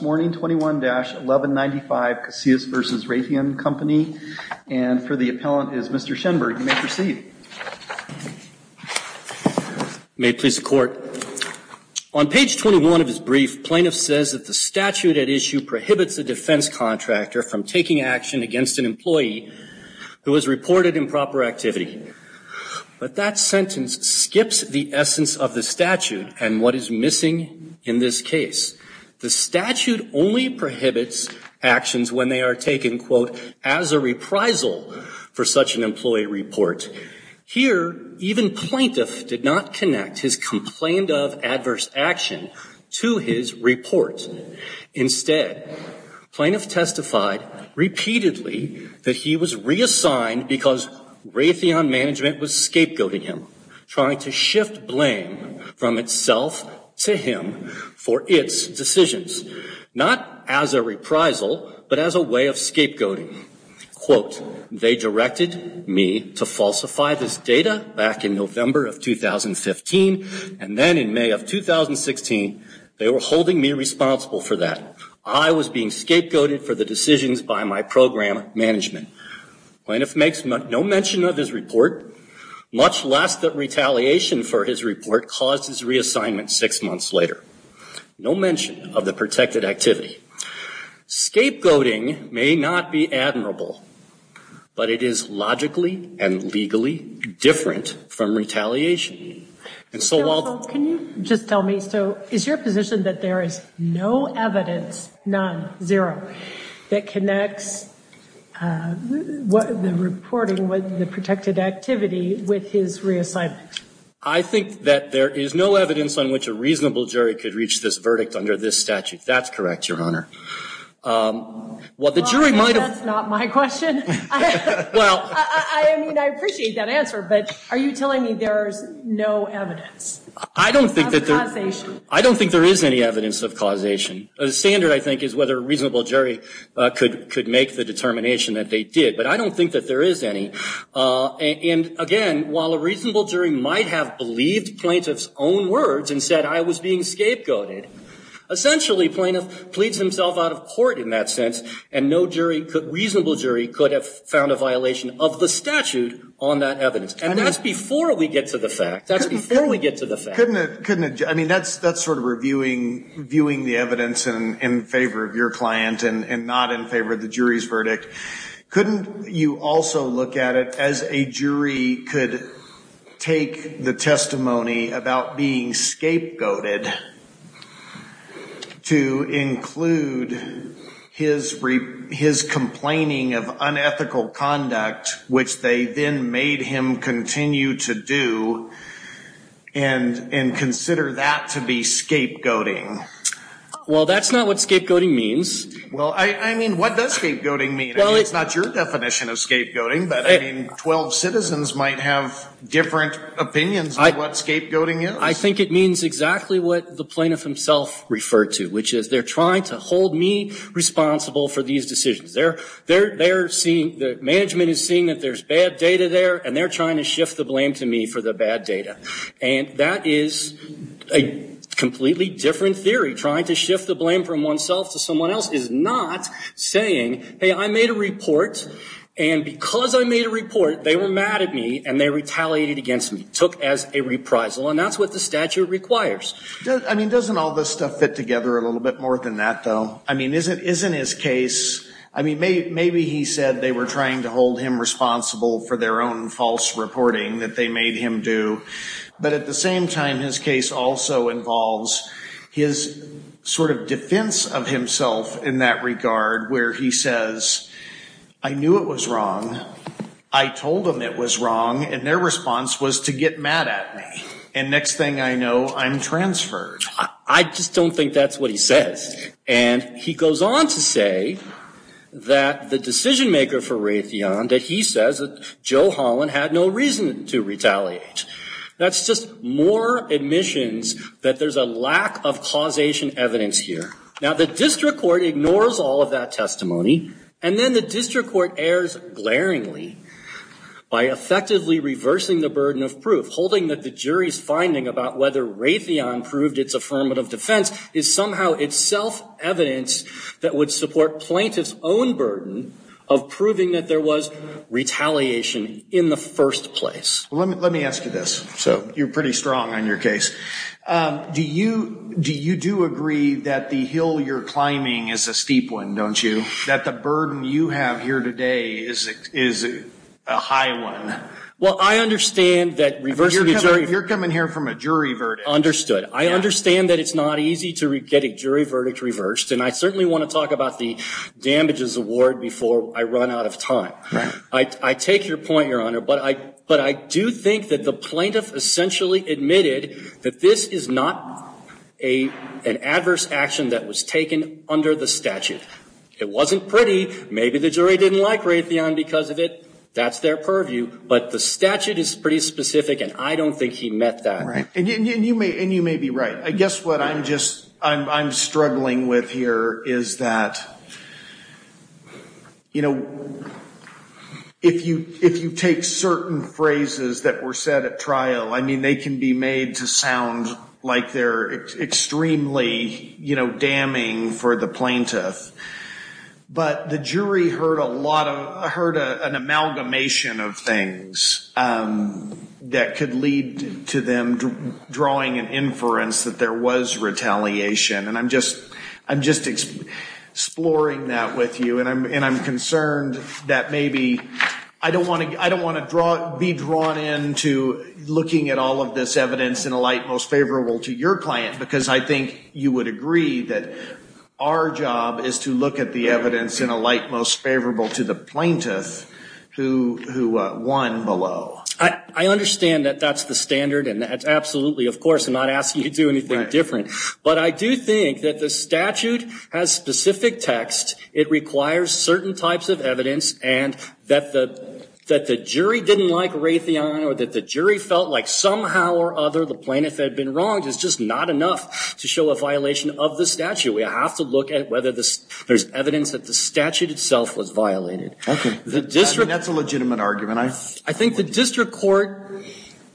21-1195 Casias v. Raytheon Company, and for the appellant is Mr. Schenberg. You may proceed. May it please the Court. On page 21 of his brief, plaintiff says that the statute at issue prohibits a defense contractor from taking action against an employee who has reported improper activity. But that sentence skips the essence of the statute and what is missing in this case. The statute only prohibits actions when they are taken, quote, as a reprisal for such an employee report. Here, even plaintiff did not connect his complaint of adverse action to his report. Instead, plaintiff testified repeatedly that he was reassigned because Raytheon Management was scapegoating him, trying to shift blame from itself to him for its decisions, not as a reprisal, but as a way of scapegoating. Quote, they directed me to falsify this data back in November of 2015, and then in May of 2016, they were holding me responsible for that. I was being scapegoated for the decisions by my program management. Plaintiff makes no mention of his report, much less that retaliation for his report caused his reassignment six months later. No mention of the protected activity. Scapegoating may not be admirable, but it is logically and legally different from retaliation. And so while- Can you just tell me, so is your position that there is no evidence, none, zero, that connects the reporting, the protected activity with his reassignment? I think that there is no evidence on which a reasonable jury could reach this verdict under this statute. That's correct, Your Honor. Well, that's not my question. I mean, I appreciate that answer, but are you telling me there's no evidence of causation? I don't think there is any evidence of causation. The standard, I think, is whether a reasonable jury could make the determination that they did, but I don't think that there is any. And again, while a reasonable jury might have believed plaintiff's own words and said, I was being scapegoated, essentially plaintiff pleads himself out of court in that sense, and no reasonable jury could have found a violation of the statute on that evidence. And that's before we get to the fact. That's before we get to the fact. I mean, that's sort of reviewing the evidence in favor of your client and not in favor of the jury's verdict. Couldn't you also look at it as a jury could take the testimony about being scapegoated to include his complaining of unethical conduct, which they then made him continue to do, and consider that to be scapegoating? Well, that's not what scapegoating means. Well, I mean, what does scapegoating mean? I mean, it's not your definition of scapegoating, but, I mean, 12 citizens might have different opinions of what scapegoating is. I think it means exactly what the plaintiff himself referred to, which is they're trying to hold me responsible for these decisions. They're seeing, the management is seeing that there's bad data there, and they're trying to shift the blame to me for the bad data. And that is a completely different theory. Trying to shift the blame from oneself to someone else is not saying, hey, I made a report, and because I made a report, they were mad at me, and they retaliated against me. Took as a reprisal. And that's what the statute requires. I mean, doesn't all this stuff fit together a little bit more than that, though? I mean, isn't his case, I mean, maybe he said they were trying to hold him responsible for their own false reporting that they made him do. But at the same time, his case also involves his sort of defense of himself in that regard, where he says, I knew it was wrong. I told them it was wrong, and their response was to get mad at me. And next thing I know, I'm transferred. I just don't think that's what he says. And he goes on to say that the decision maker for Raytheon, that he says that Joe Holland had no reason to retaliate. That's just more admissions that there's a lack of causation evidence here. Now, the district court ignores all of that testimony, and then the district court errs glaringly by effectively reversing the burden of proof, holding that the jury's finding about whether Raytheon proved its affirmative defense is somehow itself evidence that would support plaintiff's own burden of proving that there was retaliation in the first place. Let me ask you this. So you're pretty strong on your case. Do you do agree that the hill you're climbing is a steep one, don't you, that the burden you have here today is a high one? Well, I understand that reversing the jury – You're coming here from a jury verdict. Understood. I understand that it's not easy to get a jury verdict reversed, and I certainly want to talk about the damages award before I run out of time. I take your point, Your Honor, but I do think that the plaintiff essentially admitted that this is not an adverse action that was taken under the statute. It wasn't pretty. Maybe the jury didn't like Raytheon because of it. That's their purview. But the statute is pretty specific, and I don't think he met that. Right. And you may be right. I guess what I'm struggling with here is that, you know, if you take certain phrases that were said at trial, I mean, they can be made to sound like they're extremely damning for the plaintiff. But the jury heard an amalgamation of things that could lead to them drawing an inference that there was retaliation, and I'm just exploring that with you. And I'm concerned that maybe I don't want to be drawn into looking at all of this evidence in a light most favorable to your client, because I think you would agree that our job is to look at the evidence in a light most favorable to the plaintiff who won below. I understand that that's the standard, and absolutely, of course, I'm not asking you to do anything different. But I do think that the statute has specific text. It requires certain types of evidence, and that the jury didn't like Raytheon or that the jury felt like somehow or other the plaintiff had been wronged is just not enough to show a violation of the statute. We have to look at whether there's evidence that the statute itself was violated. Okay. I mean, that's a legitimate argument. I think the district court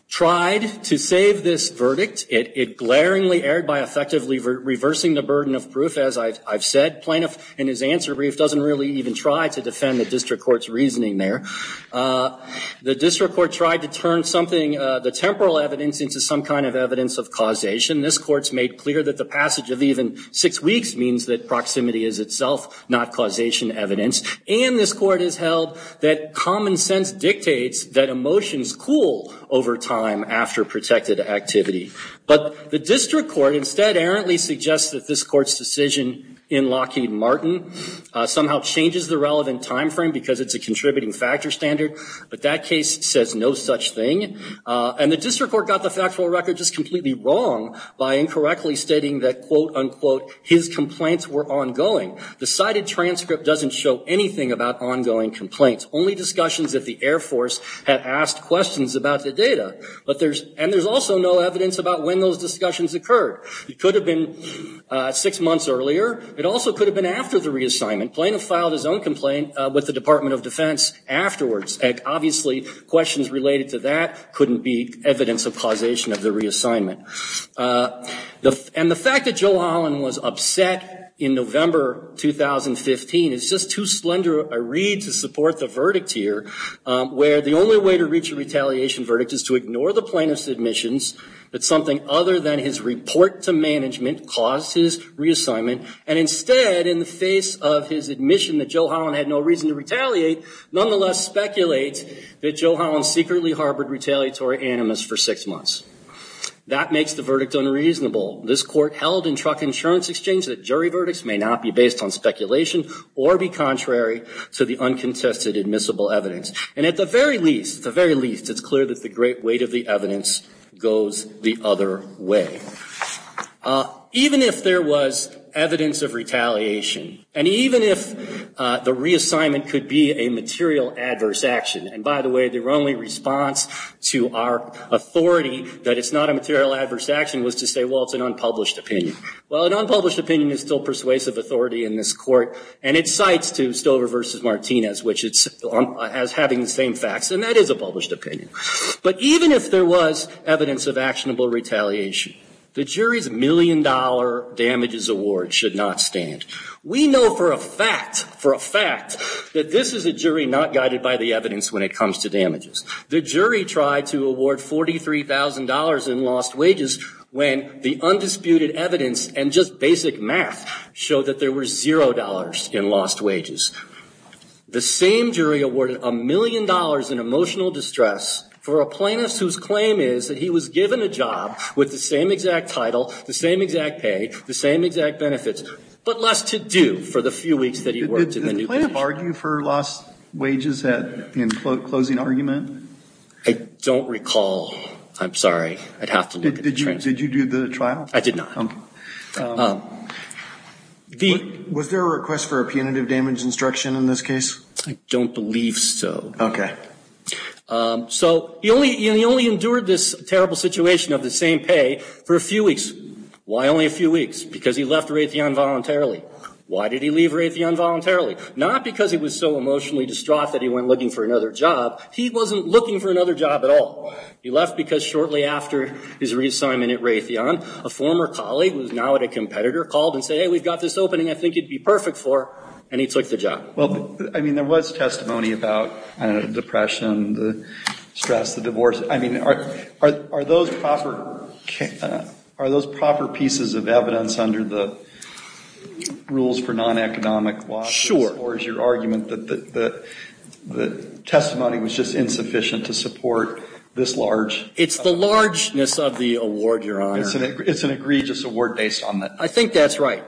tried to save this verdict. It glaringly erred by effectively reversing the burden of proof, as I've said. Plaintiff in his answer brief doesn't really even try to defend the district court's reasoning there. The district court tried to turn something, the temporal evidence, into some kind of evidence of causation. This court's made clear that the passage of even six weeks means that proximity is itself not causation evidence. And this court has held that common sense dictates that emotions cool over time after protected activity. But the district court instead errantly suggests that this court's decision in Lockheed Martin somehow changes the relevant time frame because it's a contributing factor standard. But that case says no such thing. And the district court got the factual record just completely wrong by incorrectly stating that, quote, unquote, his complaints were ongoing. The cited transcript doesn't show anything about ongoing complaints, only discussions that the Air Force had asked questions about the data. And there's also no evidence about when those discussions occurred. It could have been six months earlier. It also could have been after the reassignment. Plaintiff filed his own complaint with the Department of Defense afterwards. Obviously, questions related to that couldn't be evidence of causation of the reassignment. And the fact that Joe Holland was upset in November 2015 is just too slender a read to support the verdict here, where the only way to reach a retaliation verdict is to ignore the plaintiff's admissions that something other than his report to management caused his reassignment. And instead, in the face of his admission that Joe Holland had no reason to retaliate, nonetheless speculates that Joe Holland secretly harbored retaliatory animus for six months. That makes the verdict unreasonable. This court held in truck insurance exchange that jury verdicts may not be based on speculation or be contrary to the uncontested admissible evidence. And at the very least, at the very least, it's clear that the great weight of the evidence goes the other way. Even if there was evidence of retaliation, and even if the reassignment could be a material adverse action, and by the way, their only response to our authority that it's not a material adverse action was to say, well, it's an unpublished opinion. Well, an unpublished opinion is still persuasive authority in this court, and it cites to Stover v. Martinez as having the same facts, and that is a published opinion. But even if there was evidence of actionable retaliation, the jury's million-dollar damages award should not stand. We know for a fact, for a fact, that this is a jury not guided by the evidence when it comes to damages. The jury tried to award $43,000 in lost wages when the undisputed evidence and just basic math showed that there were $0 in lost wages. The same jury awarded a million dollars in emotional distress for a plaintiff whose claim is that he was given a job with the same exact title, the same exact pay, the same exact benefits, but less to do for the few weeks that he worked in the new position. Did the plaintiff argue for lost wages in closing argument? I don't recall. I'm sorry. I'd have to look at the transcript. Did you do the trial? I did not. Was there a request for a punitive damage instruction in this case? I don't believe so. Okay. So he only endured this terrible situation of the same pay for a few weeks. Why only a few weeks? Because he left Raytheon voluntarily. Why did he leave Raytheon voluntarily? Not because he was so emotionally distraught that he went looking for another job. He wasn't looking for another job at all. He left because shortly after his reassignment at Raytheon, a former colleague who is now at a competitor called and said, hey, we've got this opening I think you'd be perfect for, and he took the job. Well, I mean, there was testimony about depression, the stress, the divorce. I mean, are those proper pieces of evidence under the rules for non-economic losses? Sure. Or is your argument that the testimony was just insufficient to support this large? It's the largeness of the award, Your Honor. It's an egregious award based on that. I think that's right.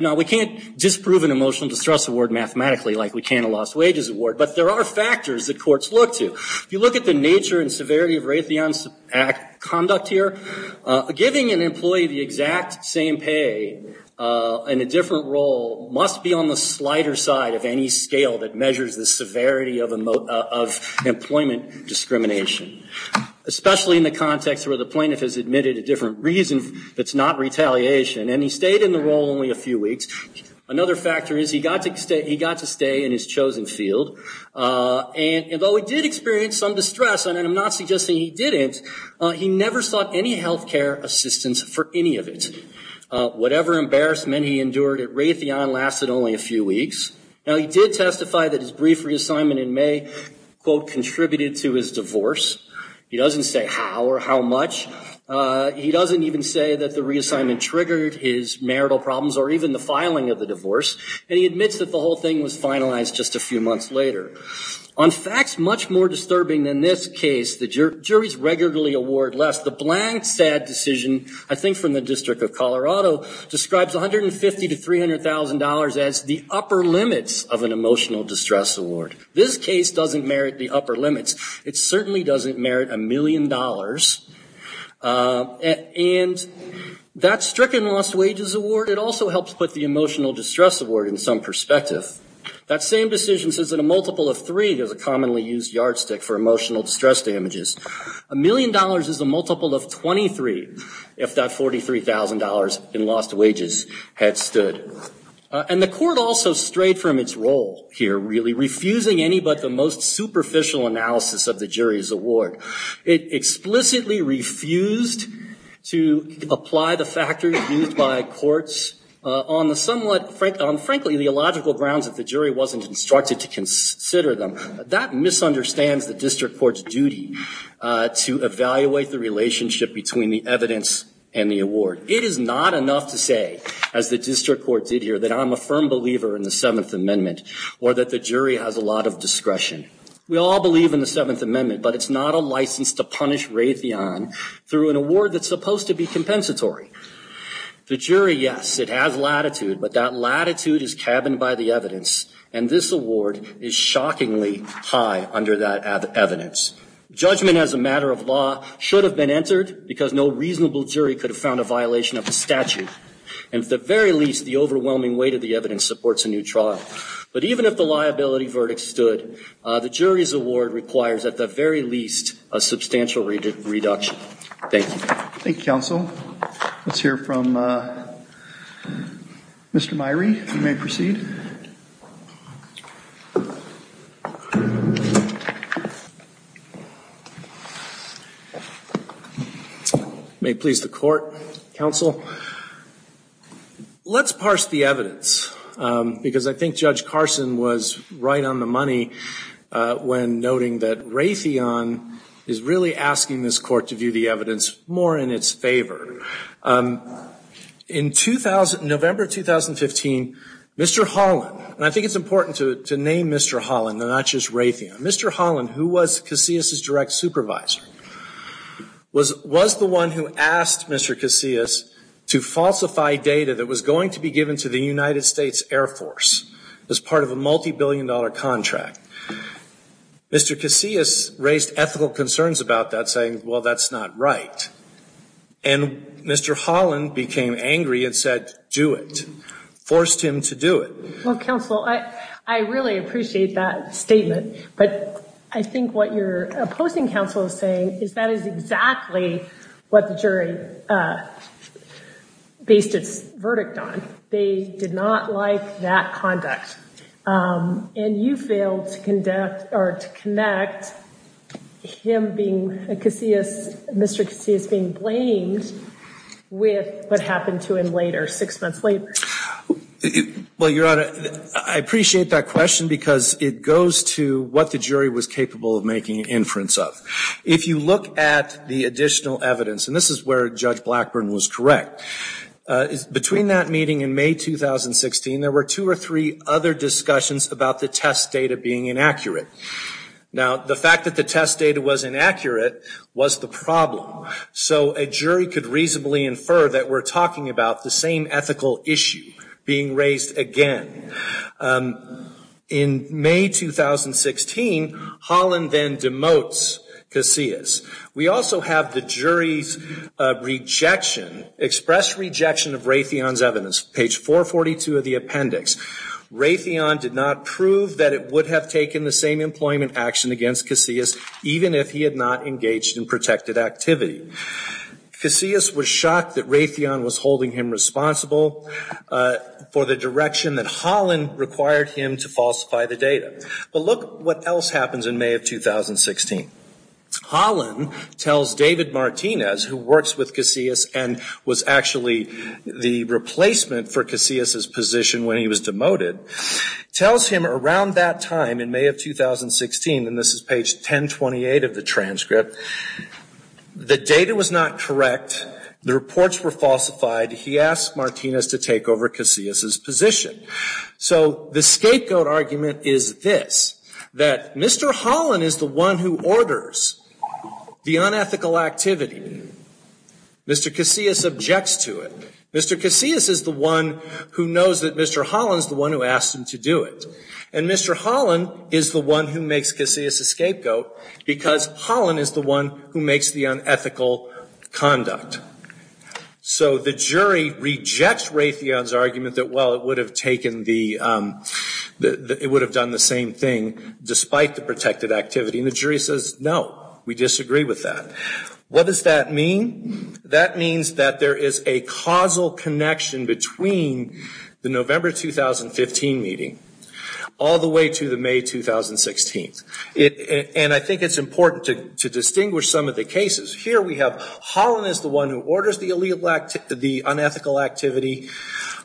Now, we can't disprove an emotional distress award mathematically like we can a lost wages award, but there are factors that courts look to. If you look at the nature and severity of Raytheon's conduct here, giving an employee the exact same pay in a different role must be on the slighter side of any scale that measures the severity of employment discrimination, especially in the context where the plaintiff has admitted a different reason that's not retaliation. And he stayed in the role only a few weeks. Another factor is he got to stay in his chosen field, and though he did experience some distress, and I'm not suggesting he didn't, he never sought any health care assistance for any of it. Whatever embarrassment he endured at Raytheon lasted only a few weeks. Now, he did testify that his brief reassignment in May, quote, contributed to his divorce. He doesn't say how or how much. He doesn't even say that the reassignment triggered his marital problems or even the filing of the divorce, and he admits that the whole thing was finalized just a few months later. On facts much more disturbing than this case, the juries regularly award less. The blank, sad decision, I think from the District of Colorado, describes $150,000 to $300,000 as the upper limits of an emotional distress award. This case doesn't merit the upper limits. It certainly doesn't merit a million dollars. And that stricken lost wages award, it also helps put the emotional distress award in some perspective. That same decision says that a multiple of three is a commonly used yardstick for emotional distress damages. A million dollars is a multiple of 23 if that $43,000 in lost wages had stood. And the court also strayed from its role here, really, refusing any but the most superficial analysis of the jury's award. It explicitly refused to apply the factors used by courts on the somewhat, frankly, illogical grounds that the jury wasn't instructed to consider them. That misunderstands the district court's duty to evaluate the relationship between the evidence and the award. It is not enough to say, as the district court did here, that I'm a firm believer in the Seventh Amendment or that the jury has a lot of discretion. We all believe in the Seventh Amendment, but it's not a license to punish Raytheon through an award that's supposed to be compensatory. The jury, yes, it has latitude, but that latitude is cabined by the evidence, and this award is shockingly high under that evidence. Judgment as a matter of law should have been entered because no reasonable jury could have found a violation of the statute. And at the very least, the overwhelming weight of the evidence supports a new trial. But even if the liability verdict stood, the jury's award requires at the very least a substantial reduction. Thank you. Thank you, counsel. Let's hear from Mr. Myrie. You may proceed. May it please the court, counsel. Let's parse the evidence because I think Judge Carson was right on the money when noting that Raytheon is really asking this court to view the evidence more in its favor. In November 2015, Mr. Holland, and I think it's important to name Mr. Holland, not just Raytheon. Mr. Holland, who was Casillas' direct supervisor, was the one who asked Mr. Casillas to falsify data that was going to be given to the United States Air Force as part of a multibillion-dollar contract. Mr. Casillas raised ethical concerns about that, saying, well, that's not right. And Mr. Holland became angry and said, do it, forced him to do it. Well, counsel, I really appreciate that statement. But I think what your opposing counsel is saying is that is exactly what the jury based its verdict on. They did not like that conduct. And you failed to connect Mr. Casillas being blamed with what happened to him later, six months later. Well, Your Honor, I appreciate that question because it goes to what the jury was capable of making inference of. If you look at the additional evidence, and this is where Judge Blackburn was correct, between that meeting in May 2016, there were two or three other discussions about the test data being inaccurate. Now, the fact that the test data was inaccurate was the problem. So a jury could reasonably infer that we're talking about the same ethical issue being raised again. In May 2016, Holland then demotes Casillas. We also have the jury's rejection, express rejection of Raytheon's evidence, page 442 of the appendix. Raytheon did not prove that it would have taken the same employment action against Casillas, even if he had not engaged in protected activity. Casillas was shocked that Raytheon was holding him responsible for the direction that Holland required him to falsify the data. But look what else happens in May of 2016. Holland tells David Martinez, who works with Casillas and was actually the replacement for Casillas' position when he was demoted, tells him around that time in May of 2016, and this is page 1028 of the transcript, the data was not correct, the reports were falsified, he asked Martinez to take over Casillas' position. So the scapegoat argument is this, that Mr. Holland is the one who orders the unethical activity. Mr. Casillas objects to it. Mr. Casillas is the one who knows that Mr. Holland is the one who asked him to do it. And Mr. Holland is the one who makes Casillas a scapegoat because Holland is the one who makes the unethical conduct. So the jury rejects Raytheon's argument that, well, it would have taken the, it would have done the same thing despite the protected activity. And the jury says, no, we disagree with that. What does that mean? That means that there is a causal connection between the November 2015 meeting all the way to the May 2016. And I think it's important to distinguish some of the cases. Here we have Holland is the one who orders the unethical activity.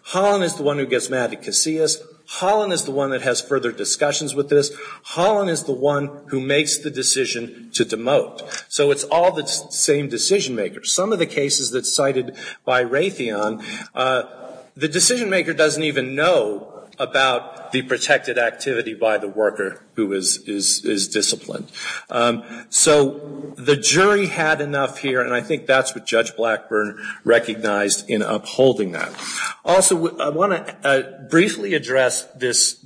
Holland is the one who gets mad at Casillas. Holland is the one that has further discussions with this. Holland is the one who makes the decision to demote. So it's all the same decision-makers. Some of the cases that's cited by Raytheon, the decision-maker doesn't even know about the protected activity by the worker who is disciplined. So the jury had enough here, and I think that's what Judge Blackburn recognized in upholding that. Also, I want to briefly address this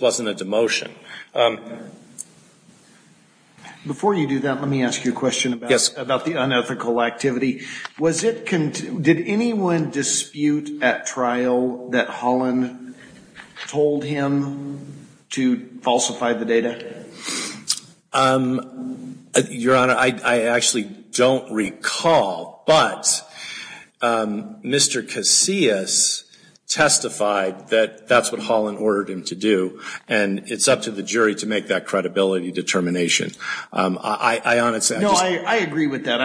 wasn't a demotion. Before you do that, let me ask you a question about the unethical activity. Was it, did anyone dispute at trial that Holland told him to falsify the data? Your Honor, I actually don't recall. But Mr. Casillas testified that that's what Holland ordered him to do, and it's up to the jury to make that credibility determination. No, I agree with that.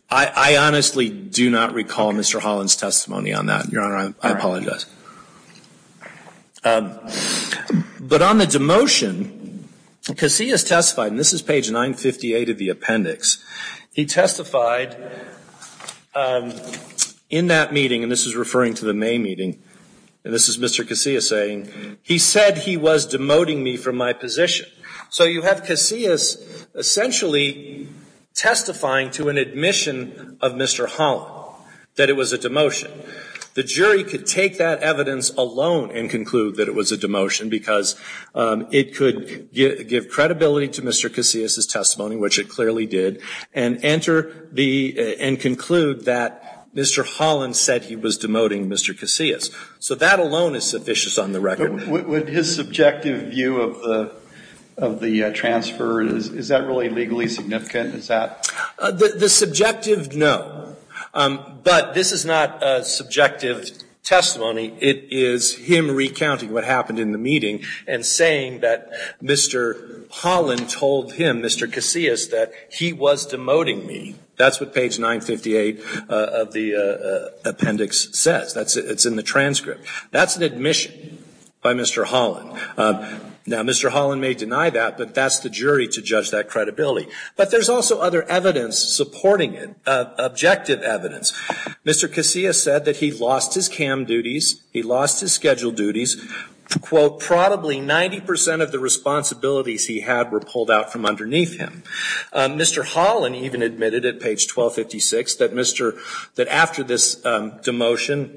I honestly do not recall Mr. Holland's testimony on that, Your Honor. I apologize. But on the demotion, Casillas testified, and this is page 958 of the appendix. He testified in that meeting, and this is referring to the May meeting, and this is Mr. Casillas saying, he said he was demoting me from my position. So you have Casillas essentially testifying to an admission of Mr. Holland that it was a demotion. The jury could take that evidence alone and conclude that it was a demotion because it could give credibility to Mr. Casillas' testimony, which it clearly did, and enter the, and conclude that Mr. Holland said he was demoting Mr. Casillas. So that alone is sufficient on the record. Would his subjective view of the transfer, is that really legally significant? Is that? The subjective, no. But this is not a subjective testimony. It is him recounting what happened in the meeting and saying that Mr. Holland told him, Mr. Casillas, that he was demoting me. That's what page 958 of the appendix says. It's in the transcript. That's an admission by Mr. Holland. Now, Mr. Holland may deny that, but that's the jury to judge that credibility. But there's also other evidence supporting it, objective evidence. Mr. Casillas said that he lost his CAM duties. He lost his scheduled duties. Quote, probably 90% of the responsibilities he had were pulled out from underneath him. Mr. Holland even admitted at page 1256 that Mr., that after this demotion,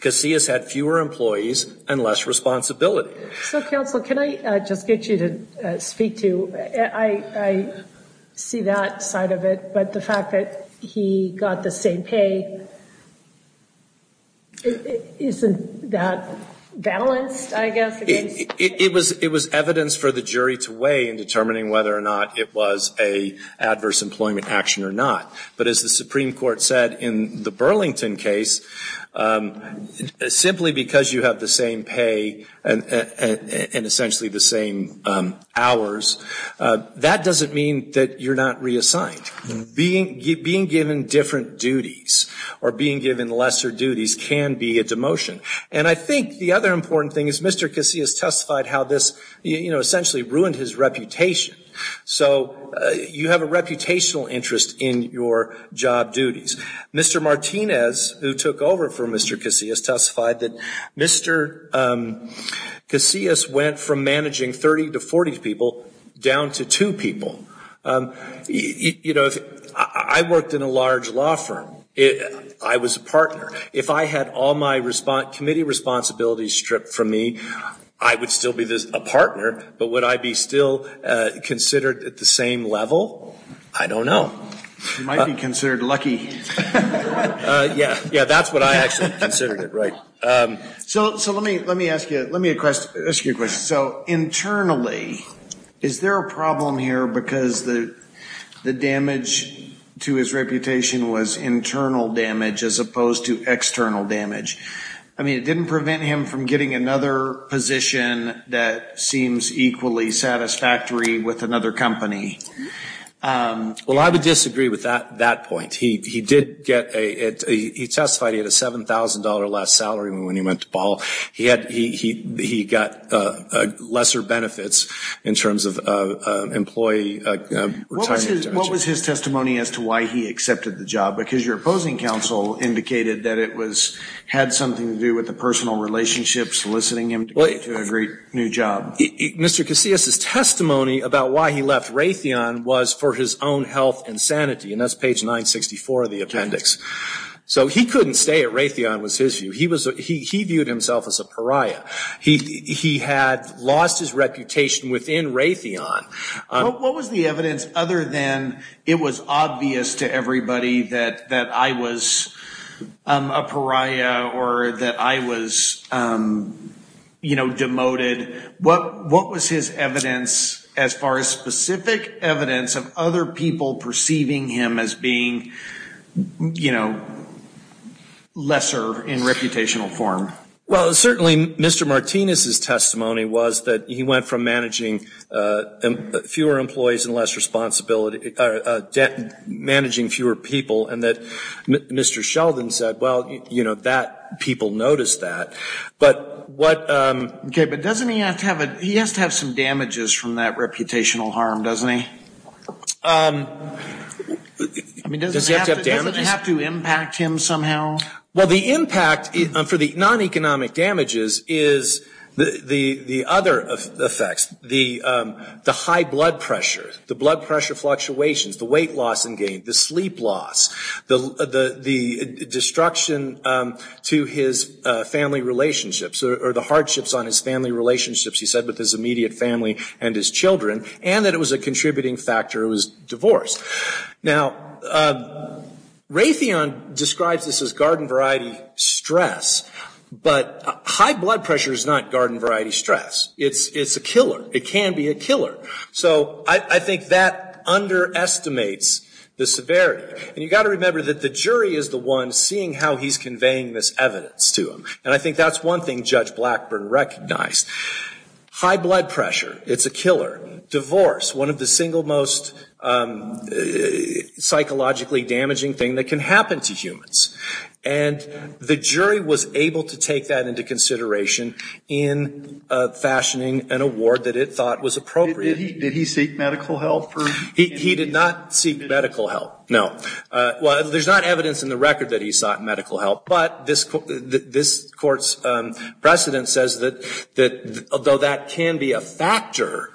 Casillas had fewer employees and less responsibility. So, counsel, can I just get you to speak to, I, I see that side of it. But the fact that he got the same pay, isn't that balanced, I guess, against? It was, it was evidence for the jury to weigh in determining whether or not it was an adverse employment action or not. But as the Supreme Court said in the Burlington case, simply because you have the same pay and essentially the same hours, that doesn't mean that you're not reassigned. Being, being given different duties or being given lesser duties can be a demotion. And I think the other important thing is Mr. Casillas testified how this, you know, essentially ruined his reputation. So you have a reputational interest in your job duties. Mr. Martinez, who took over for Mr. Casillas, testified that Mr. Casillas went from managing 30 to 40 people down to two people. You know, I worked in a large law firm. I was a partner. If I had all my committee responsibilities stripped from me, I would still be a partner, but would I be still considered at the same level? I don't know. You might be considered lucky. Yeah, yeah, that's what I actually considered it, right. So, so let me, let me ask you, let me ask you a question. So internally, is there a problem here because the, the damage to his reputation was internal damage as opposed to external damage? I mean, it didn't prevent him from getting another position that seems equally satisfactory with another company. Well, I would disagree with that, that point. He, he did get a, he testified he had a $7,000 less salary than when he went to Ball. He had, he, he got lesser benefits in terms of employee retirement. What was his testimony as to why he accepted the job? Because your opposing counsel indicated that it was, had something to do with a personal relationship soliciting him to a great new job. Mr. Casillas' testimony about why he left Raytheon was for his own health and sanity, and that's page 964 of the appendix. So he couldn't stay at Raytheon was his view. He was, he, he viewed himself as a pariah. He, he had lost his reputation within Raytheon. What was the evidence other than it was obvious to everybody that, that I was a pariah or that I was, you know, demoted? What, what was his evidence as far as specific evidence of other people perceiving him as being, you know, lesser in reputational form? Well, certainly Mr. Martinez' testimony was that he went from managing fewer employees and less responsibility, managing fewer people, and that Mr. Sheldon said, well, you know, that, people noticed that. But what. Okay, but doesn't he have to have a, he has to have some damages from that reputational harm, doesn't he? I mean, doesn't he have to have damages? Doesn't it have to impact him somehow? Well, the impact for the non-economic damages is the, the, the other effects, the, the high blood pressure, the blood pressure fluctuations, the weight loss and gain, the sleep loss, the, the, the destruction to his family relationships, or the hardships on his family relationships, he said, with his immediate family and his children, and that it was a contributing factor, it was divorce. Now, Raytheon describes this as garden variety stress, but high blood pressure is not garden variety stress. It's, it's a killer. It can be a killer. So I, I think that underestimates the severity. And you've got to remember that the jury is the one seeing how he's conveying this evidence to him. And I think that's one thing Judge Blackburn recognized. High blood pressure, it's a killer. Divorce, one of the single most psychologically damaging thing that can happen to humans. And the jury was able to take that into consideration in fashioning an award that it thought was appropriate. Did he, did he seek medical help? He, he did not seek medical help, no. Well, there's not evidence in the record that he sought medical help, but this, this court's precedent says that, that although that can be a factor,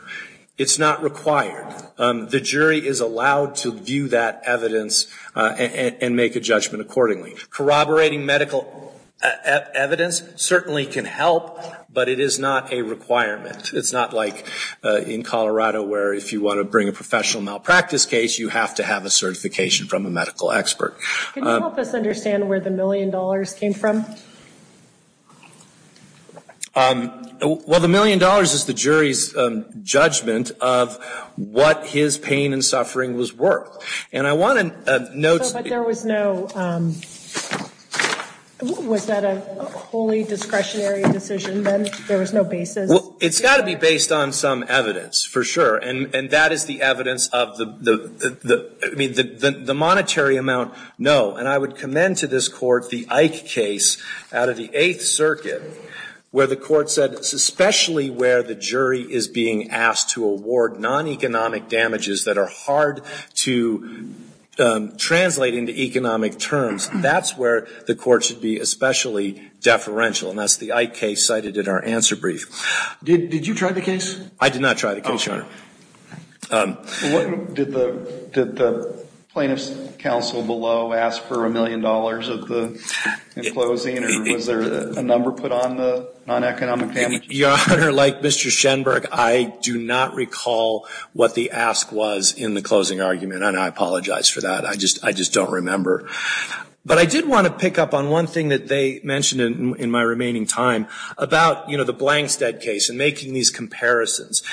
it's not required. The jury is allowed to view that evidence and, and make a judgment accordingly. Corroborating medical evidence certainly can help, but it is not a requirement. It's not like in Colorado where if you want to bring a professional malpractice case, you have to have a certification from a medical expert. Can you help us understand where the million dollars came from? Well, the million dollars is the jury's judgment of what his pain and suffering was worth. And I want to note. But there was no, was that a wholly discretionary decision then? There was no basis? Well, it's got to be based on some evidence, for sure. And, and that is the evidence of the, the, the, I mean, the, the monetary amount, no. And I would commend to this court the Ike case out of the Eighth Circuit, where the court said especially where the jury is being asked to award non-economic damages that are hard to translate into economic terms, that's where the court should be especially deferential. And that's the Ike case cited in our answer brief. Did, did you try the case? I did not try the case, Your Honor. Oh. Did the, did the plaintiff's counsel below ask for a million dollars of the, in closing? And was there a number put on the non-economic damages? Your Honor, like Mr. Schenberg, I do not recall what the ask was in the closing argument. And I apologize for that. I just, I just don't remember. But I did want to pick up on one thing that they mentioned in, in my remaining time about, you know, the Blankstead case and making these comparisons.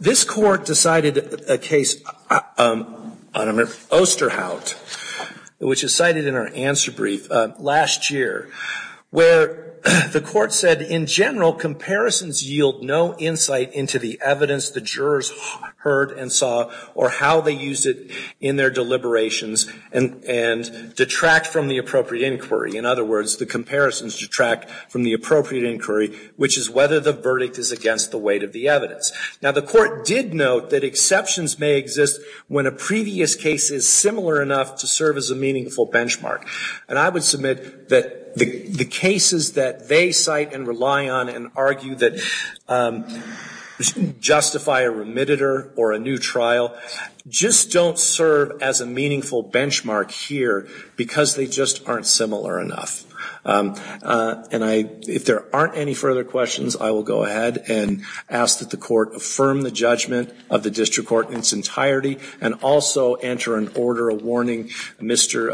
This court decided a case, I don't remember, Osterhout, which is cited in our answer brief, last year, where the court said in general comparisons yield no insight into the evidence the jurors heard and saw or how they used it in their deliberations and, and detract from the appropriate inquiry. In other words, the comparisons detract from the appropriate inquiry, which is whether the verdict is against the weight of the evidence. Now, the court did note that exceptions may exist when a previous case is similar enough to serve as a meaningful benchmark. And I would submit that the cases that they cite and rely on and argue that justify a remittitor or a new trial, just don't serve as a meaningful benchmark here because they just aren't similar enough. And I, if there aren't any further questions, I will go ahead and ask that the court affirm the judgment of the district court in its entirety and also enter in order a warning, Mr.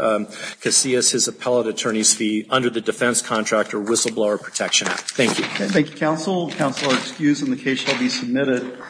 Casillas, his appellate attorney's fee under the defense contractor whistleblower protection act. Thank you. Thank you, counsel. Counsel are excused and the case shall be submitted.